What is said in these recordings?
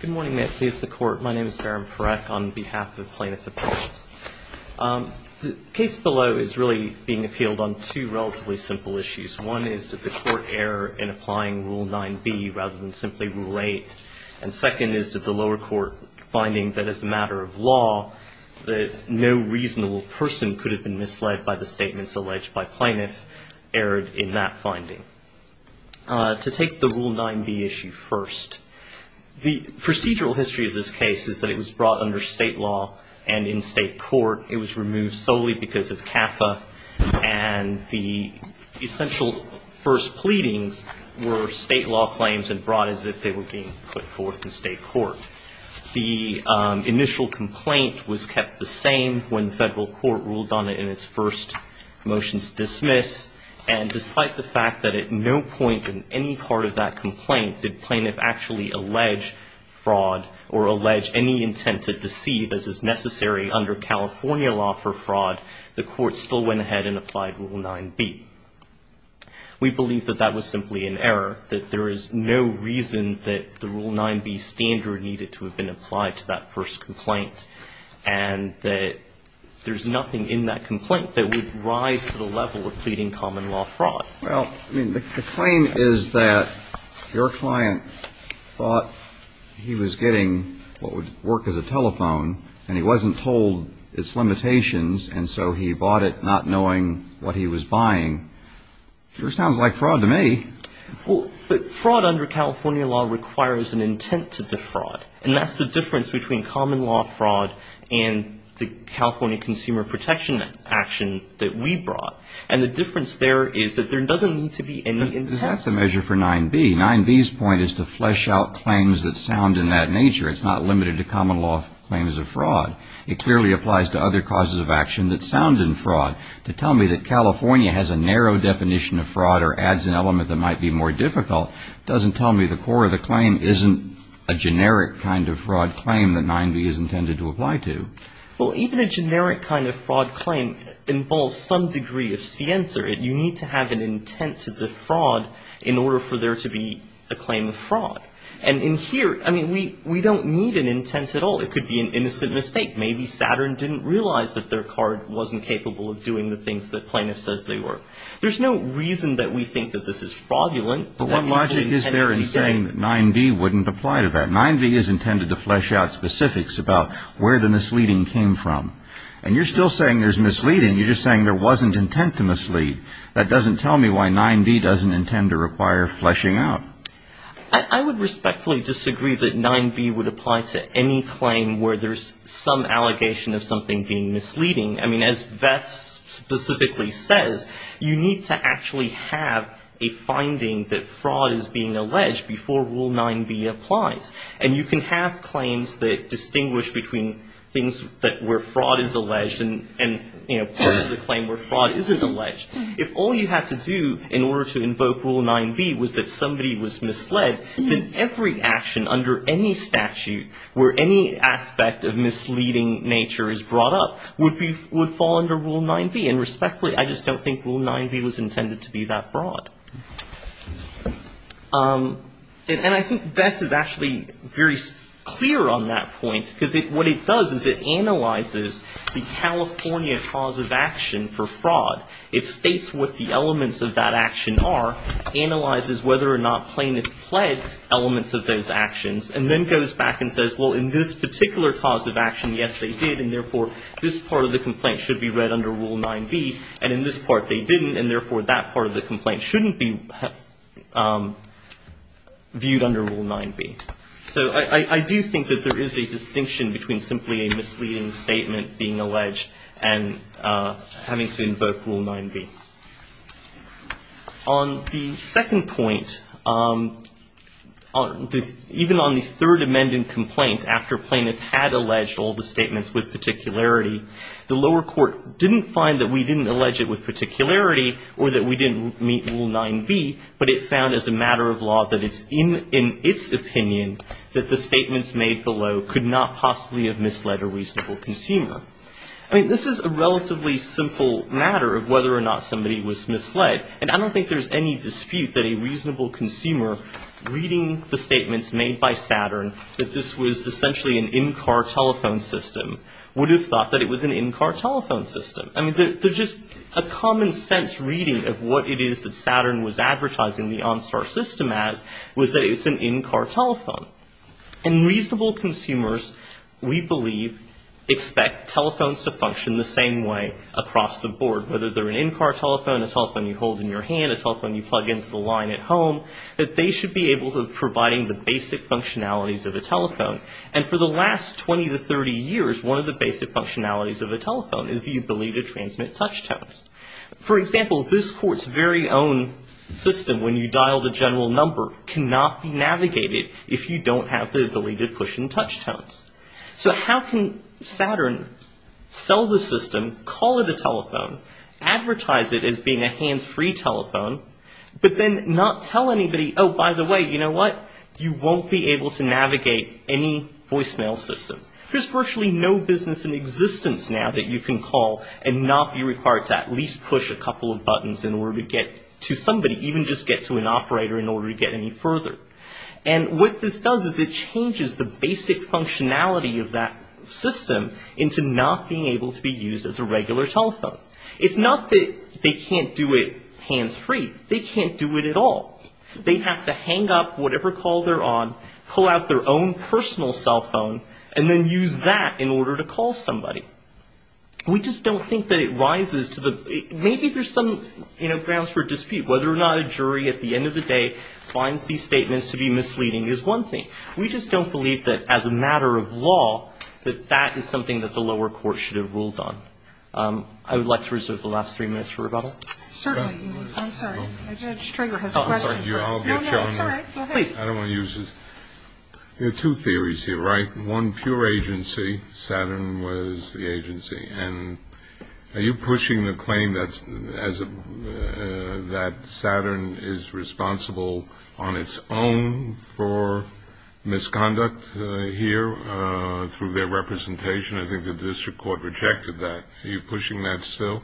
Good morning, may it please the Court. My name is Barron Parekh on behalf of Plaintiff Appeals. The case below is really being appealed on two relatively simple issues. One is, did the Court err in applying Rule 9b rather than simply Rule 8? And second is, did the lower court finding that as a matter of law, that no reasonable person could have been misled by the statements alleged by plaintiff err in that finding? To take the Rule 9b issue first, the procedural history of this case is that it was brought under state law and in state court. It was removed solely because of CAFA and the essential first pleadings were state law claims and brought as if they were being put forth in state court. The initial complaint was kept the same when the federal court ruled on it in its first motions dismiss. And despite the fact that at no point in any part of that complaint did plaintiff actually allege fraud or allege any intent to deceive as is necessary under California law for fraud, the Court still went ahead and applied Rule 9b. We believe that that was simply an error, that there is no reason that the Rule 9b standard needed to have been applied to that first complaint and that there's nothing in that complaint that would rise to the level of pleading common law fraud. Well, I mean, the claim is that your client thought he was getting what would work as a telephone and he wasn't told its limitations and so he bought it not knowing what he was buying. Sure sounds like fraud to me. Well, but fraud under California law requires an intent to defraud and that's the difference between common law fraud and the California consumer protection action that we brought. And the difference there is that there doesn't need to be any intent. Is that the measure for 9b? 9b's point is to flesh out claims that sound in that nature. It's not limited to common law claims of fraud. It clearly applies to other causes of action that sound in fraud. To tell me that California has a narrow definition of fraud or adds an element that might be more difficult doesn't tell me the core of the claim isn't a generic kind of fraud claim that 9b is intended to apply to. Well, even a generic kind of fraud claim involves some degree of ciencer. You need to have an intent to defraud in order for there to be a claim of fraud. And in here, I mean, we don't need an intent at all. It could be an innocent mistake. Maybe Saturn didn't realize that their card wasn't capable of doing the things that plaintiff says they were. There's no reason that we think that this is fraudulent. But what logic is there in saying that 9b wouldn't apply to that? 9b is intended to flesh out specifics about where the misleading came from. And you're still saying there's misleading. You're just saying there wasn't intent to mislead. That doesn't tell me why 9b doesn't intend to require fleshing out. I would respectfully disagree that 9b would apply to any claim where there's some allegation of something being misleading. I mean, as Vess specifically says, you need to actually have a finding that fraud is being alleged before Rule 9b applies. And you can have claims that distinguish between things where fraud is alleged and, you know, part of the claim where fraud isn't alleged. If all you had to do in order to invoke Rule 9b was that somebody was misled, then every action under any statute where any aspect of misleading nature is brought up would fall under Rule 9b. And respectfully, I just don't think Rule 9b was intended to be that broad. And I think Vess is actually very clear on that point, because what it does is it analyzes the California cause of action for fraud. It states what the elements of that action are, analyzes whether or not plaintiff pled elements of those actions, and then goes back and says, well, in this particular cause of action, yes, they did, and, therefore, this part of the complaint should be read under Rule 9b. And in this part, they didn't, and, therefore, that part of the complaint shouldn't be viewed under Rule 9b. So I do think that there is a distinction between simply a misleading statement being alleged and having to invoke Rule 9b. On the second point, even on the Third Amendment complaint, after plaintiff had alleged all the statements with particularity, the lower court didn't find that we didn't allege it with particularity or that we didn't meet the standard of law that it's in its opinion that the statements made below could not possibly have misled a reasonable consumer. I mean, this is a relatively simple matter of whether or not somebody was misled. And I don't think there's any dispute that a reasonable consumer reading the statements made by Saturn that this was essentially an in-car telephone system would have thought that it was an in-car telephone system. I mean, there's just a common-sense reading of what it is that Saturn was advertising the OnStar system as was that it's an in-car telephone. And reasonable consumers, we believe, expect telephones to function the same way across the board, whether they're an in-car telephone, a telephone you hold in your hand, a telephone you plug into the line at home, that they should be able to providing the basic functionalities of a telephone. And for the last 20 to 30 years, one of the basic functionalities of a telephone is the ability to transmit touch tones. For example, this court's very own system, when you dial the general number, cannot be navigated if you don't have the ability to push in touch tones. So how can Saturn sell the system, call it a telephone, advertise it as being a hands-free telephone, but then not tell anybody, oh, by the way, you know what, you won't be able to navigate any voicemail system. There's virtually no business in existence now that you can call and not be required to at least push a couple of buttons in order to get to somebody, even just get to an operator in order to get any further. And what this does is it changes the basic functionality of that system into not being able to be used as a regular telephone. It's not that they can't do it hands-free. They can't do it at all. They have to hang up whatever call they're on, pull out their own personal cell phone, and then use that in order to call somebody. We just don't think that it rises to the, maybe there's some, you know, grounds for dispute. Whether or not a jury at the end of the day finds these statements to be misleading is one thing. We just don't believe that, as a matter of law, that that is something that the lower court should have ruled on. I would like to reserve the last three minutes for rebuttal. Certainly. I'm sorry. I don't want to use this. There are two theories here, right? One, pure agency. Saturn was the agency. And are you pushing the claim that Saturn is responsible on its own for misconduct here through their representation? I think the district court rejected that. Are you pushing that still?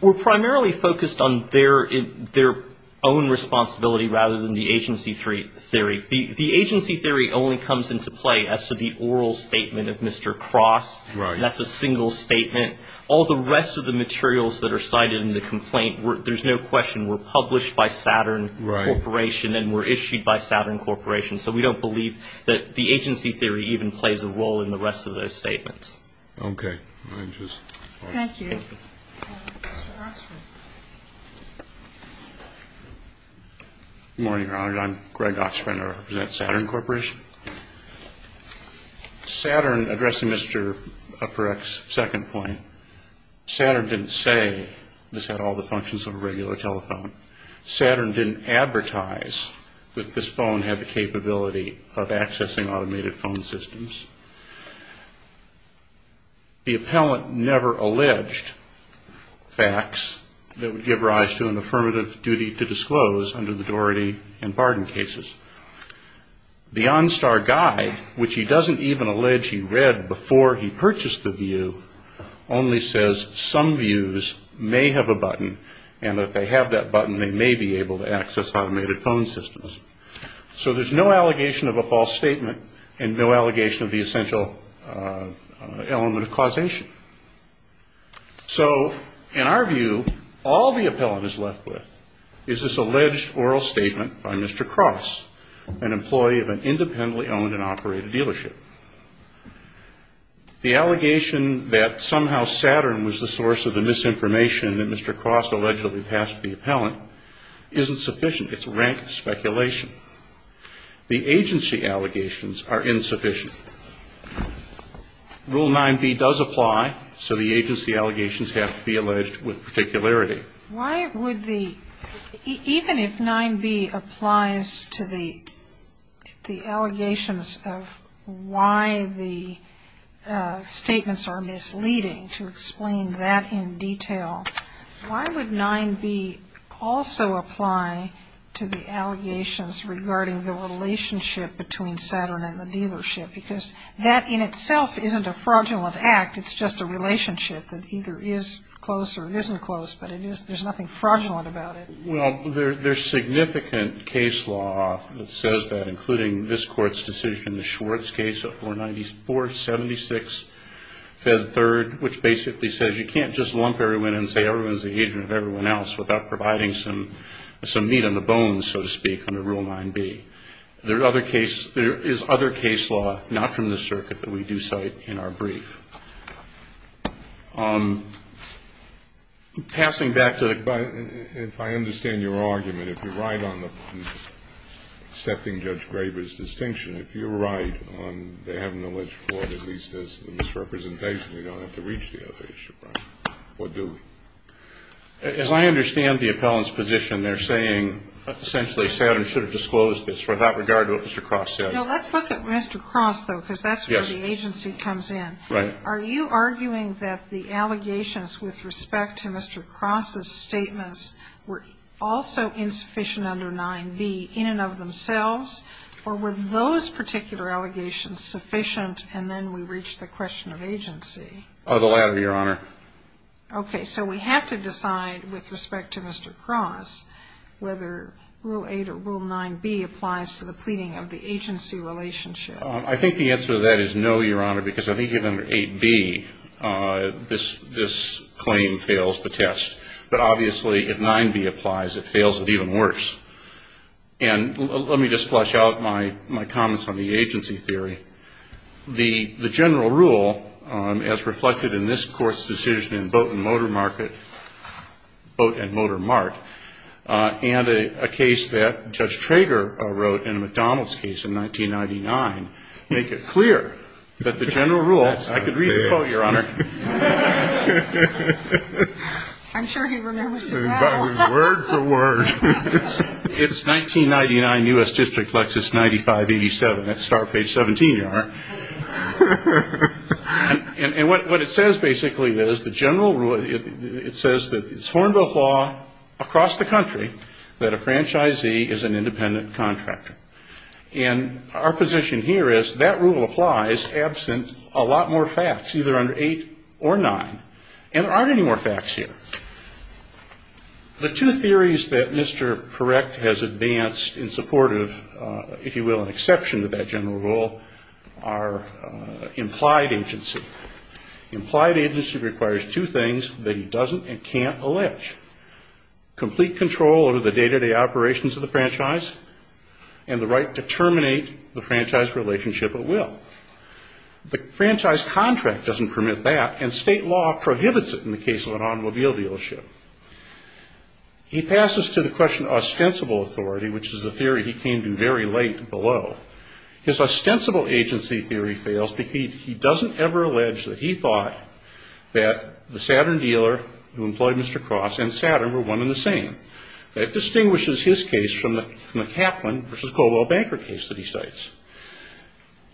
We're primarily focused on their own responsibility rather than the agency theory. The agency theory only comes into play as to the oral statement of Mr. Cross. That's a single statement. All the rest of the materials that are cited in the complaint, there's no question, were published by Saturn Corporation and were issued by Saturn Corporation. So we don't believe that the agency theory even plays a role in the rest of those statements. Okay. Good morning, Your Honor. I'm Greg Oxman. I represent Saturn Corporation. Saturn, addressing Mr. Upperecht's second point, Saturn didn't say this had all the functions of a regular telephone. Saturn didn't advertise that this phone had the capability of accessing automated phone systems. The appellant never alleged facts that would give rise to an affirmative duty to disclose under the Doherty and Barden cases. The OnStar Guide, which he doesn't even allege he read before he purchased the view, only says some views may have a button, and if they have that button, they may be able to access automated phone systems. So there's no allegation of a false statement and no allegation of the essential element of causation. So in our view, all the appellant is left with is this alleged oral statement by Mr. Cross. An employee of an independently owned and operated dealership. The allegation that somehow Saturn was the source of the misinformation that Mr. Cross allegedly passed to the appellant isn't sufficient. It's rank speculation. The agency allegations are insufficient. Rule 9B does apply, so the agency allegations have to be alleged with particularity. Why would the, even if 9B applies to the allegations of why the statements are misleading, to explain that in detail, why would 9B also apply to the allegations regarding the relationship between Saturn and the dealership? Because that in itself isn't a fraudulent act, it's just a relationship that either is close or isn't close, but there's nothing fraudulent about it. Well, there's significant case law that says that, including this Court's decision, the Schwartz case of 494-76, fed third, which basically says you can't just lump everyone in and say everyone's the agent of everyone else without providing some meat on the bones, so to speak, under Rule 9B. There is other case law, not from this circuit, that we do cite in our brief. Passing back to the... If I understand your argument, if you're right on accepting Judge Graber's distinction, if you're right on they have an alleged fraud, at least as the misrepresentation, you don't have to reach the other issue, right? Or do we? As I understand the appellant's position, they're saying essentially Saturn should have disclosed this without regard to what Mr. Cross said. No, let's look at Mr. Cross, though, because that's where the agency comes in. Are you arguing that the allegations with respect to Mr. Cross's statements were also insufficient under 9B in and of themselves, or were those particular allegations sufficient and then we reached the question of agency? The latter, Your Honor. Okay, so we have to decide with respect to Mr. Cross whether Rule 8 or Rule 9B applies to the pleading of the agency relationship. I think the answer to that is no, Your Honor, because I think under 8B this claim fails the test. But obviously if 9B applies, it fails it even worse. And let me just flesh out my comments on the agency theory. The general rule, as reflected in this Court's decision in Boat and Motor Mart, and a case that Judge Trager wrote in a McDonald's case in 1999, make it clear that the general rule, I could read the quote, Your Honor. I'm sure he remembers it well. Word for word. It's 1999, U.S. District, Lexus 9587. That's start page 17, Your Honor. And what it says basically is the general rule, it says that it's horned o'clock across the country that a franchisee is an independent contractor. And our position here is that rule applies absent a lot more facts, either under 8 or 9. And there aren't any more facts here. The two theories that Mr. Parekh has advanced in support of, if you will, an exception to that general rule, are implied agency. Implied agency requires two things that he doesn't and can't allege. Complete control over the day-to-day operations of the franchise, and the right to terminate the franchise relationship at will. The franchise contract doesn't permit that, and state law prohibits it in the case of an automobile dealership. He passes to the question of ostensible authority, which is a theory he came to very late below. His ostensible agency theory fails because he doesn't ever allege that he thought that the Saturn dealer who employed Mr. Cross and Saturn were one and the same. That distinguishes his case from the Kaplan versus Colwell Banker case that he cites.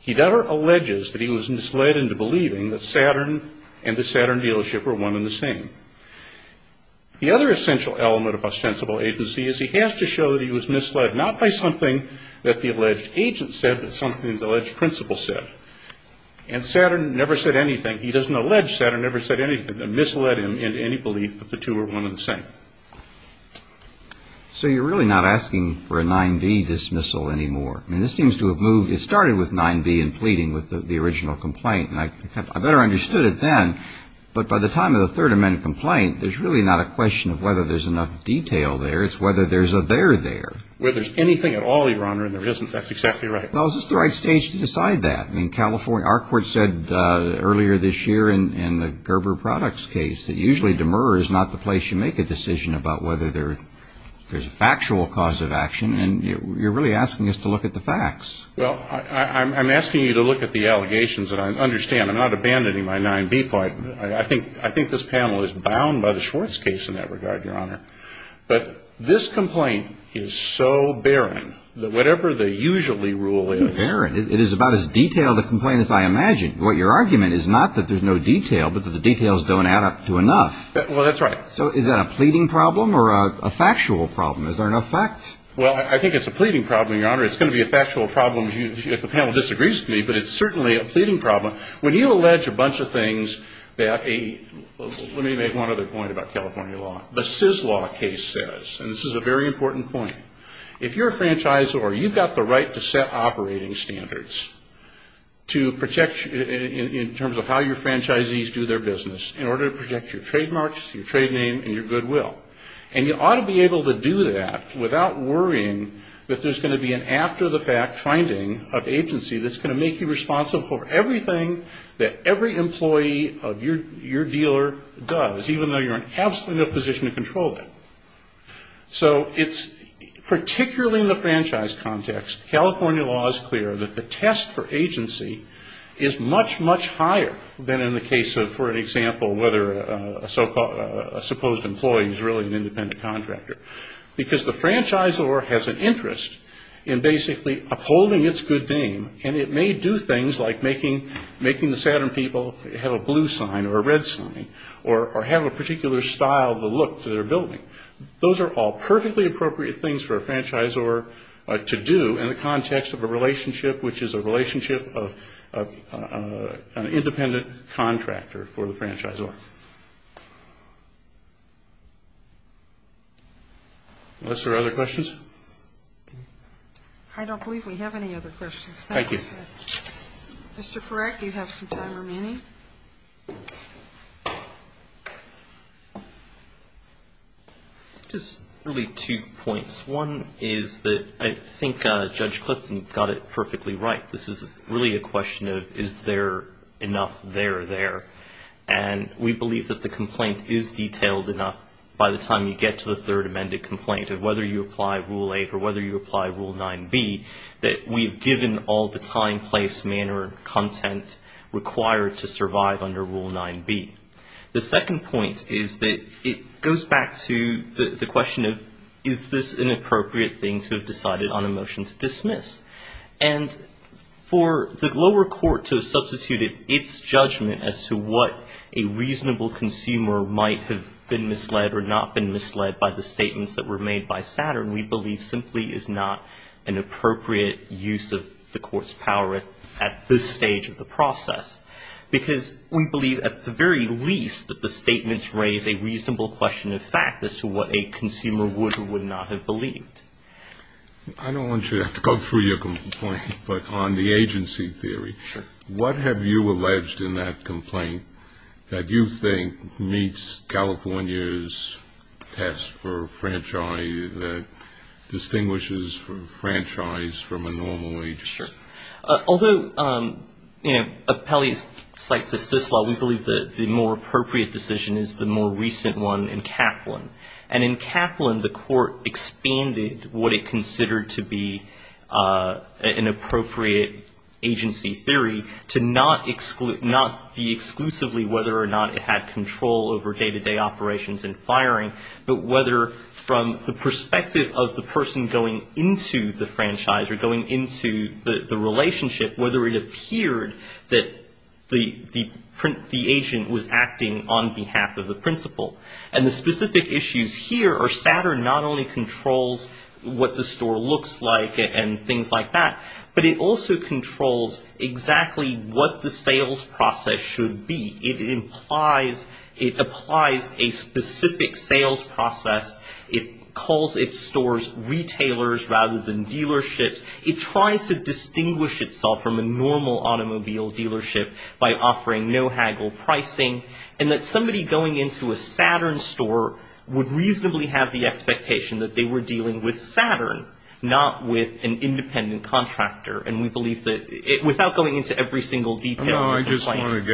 He never alleges that he was misled into believing that Saturn and the Saturn dealership were one and the same. The other essential element of ostensible agency is he has to show that he was misled, not by something that the alleged agent said, but something that the alleged principal said. And Saturn never said anything. He doesn't allege Saturn never said anything and misled him into any belief that the two were one and the same. So you're really not asking for a 9B dismissal anymore. I mean, this seems to have moved ñ it started with 9B and pleading with the original complaint, and I better understood it then. But by the time of the Third Amendment complaint, there's really not a question of whether there's enough detail there. It's whether there's a there there. Well, there's anything at all, Your Honor, and there isn't. That's exactly right. Well, is this the right stage to decide that? I mean, our court said earlier this year in the Gerber Products case that usually demur is not the place you make a decision about whether there's a factual cause of action. And you're really asking us to look at the facts. Well, I'm asking you to look at the allegations, and I understand I'm not abandoning my 9B point. I think this panel is bound by the Schwartz case in that regard, Your Honor. But this complaint is so barren that whatever the usually rule is ñ It's barren. It is about as detailed a complaint as I imagine. Your argument is not that there's no detail, but that the details don't add up to enough. Well, that's right. So is that a pleading problem or a factual problem? Is there enough fact? Well, I think it's a pleading problem, Your Honor. It's going to be a factual problem if the panel disagrees with me, but it's certainly a pleading problem. When you allege a bunch of things that a ñ let me make one other point about California law. The Syslaw case says, and this is a very important point, if you're a franchisor, you've got the right to set operating standards to protect you in terms of how your franchisees do their business in order to protect your trademarks, your trade name, and your goodwill. And you ought to be able to do that without worrying that there's going to be an after-the-fact finding of agency that's going to make you responsible for everything that every employee of your dealer does, even though you're in absolutely no position to control it. So it's particularly in the franchise context, California law is clear that the test for agency is much, much higher than in the case of, for example, whether a supposed employee is really an independent contractor. Because the franchisor has an interest in basically upholding its good name, and it may do things like making the Saturn people have a blue sign or a red sign or have a particular style of the look that they're building. Those are all perfectly appropriate things for a franchisor to do in the context of a relationship, which is a relationship of an independent contractor for the franchisor. Unless there are other questions. I don't believe we have any other questions. Thank you. Mr. Korek, you have some time remaining. Just really two points. One is that I think Judge Clifton got it perfectly right. This is really a question of is there enough there there. And we believe that the complaint is detailed enough by the time you get to the Third Amendment complaint of whether you apply Rule 8 or whether you apply Rule 9B, that we've given all the time, place, manner, content required to survive under Rule 9B. The second point is that it goes back to the question of is this an appropriate thing to have decided on a motion to dismiss. And for the lower court to have substituted its judgment as to what a reasonable consumer might have been misled or not been misled by the statements that were made by Saturn, we believe simply is not an appropriate use of the court's power at this stage of the process. Because we believe at the very least that the statements raise a reasonable question of fact as to what a consumer would or would not have believed. I don't want you to have to go through your complaint, but on the agency theory, what have you alleged in that complaint that you think meets California's test for franchise that distinguishes franchise from a normal agency? Although, you know, Appellee's cites the CIS law, we believe the more appropriate decision is the more recent one in Kaplan. And in Kaplan, the court expanded what it considered to be an appropriate agency theory to not be exclusively whether or not it had control over day-to-day operations and firing, but whether from the perspective of the person going into the franchise or going into the relationship, whether it appeared that the agent was acting on behalf of the principal. And the specific issues here are Saturn not only controls what the store looks like and things like that, but it also controls exactly what the sales process should be. It implies, it applies a specific sales process. It calls its stores retailers rather than dealerships. It tries to distinguish itself from a normal automobile dealership by offering no haggle pricing and that somebody going into a Saturn store would reasonably have the expectation that they were dealing with Saturn, not with an independent contractor. And we believe that without going into every single detail. Thank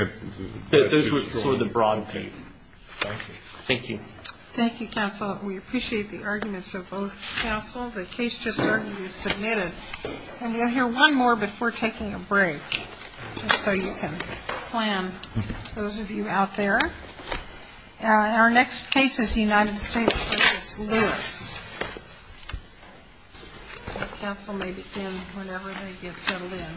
you. Thank you, counsel. We appreciate the arguments of both counsel. The case just started to be submitted. And we'll hear one more before taking a break, just so you can plan, those of you out there. Our next case is United States versus Lewis. Counsel may begin whenever they get settled in.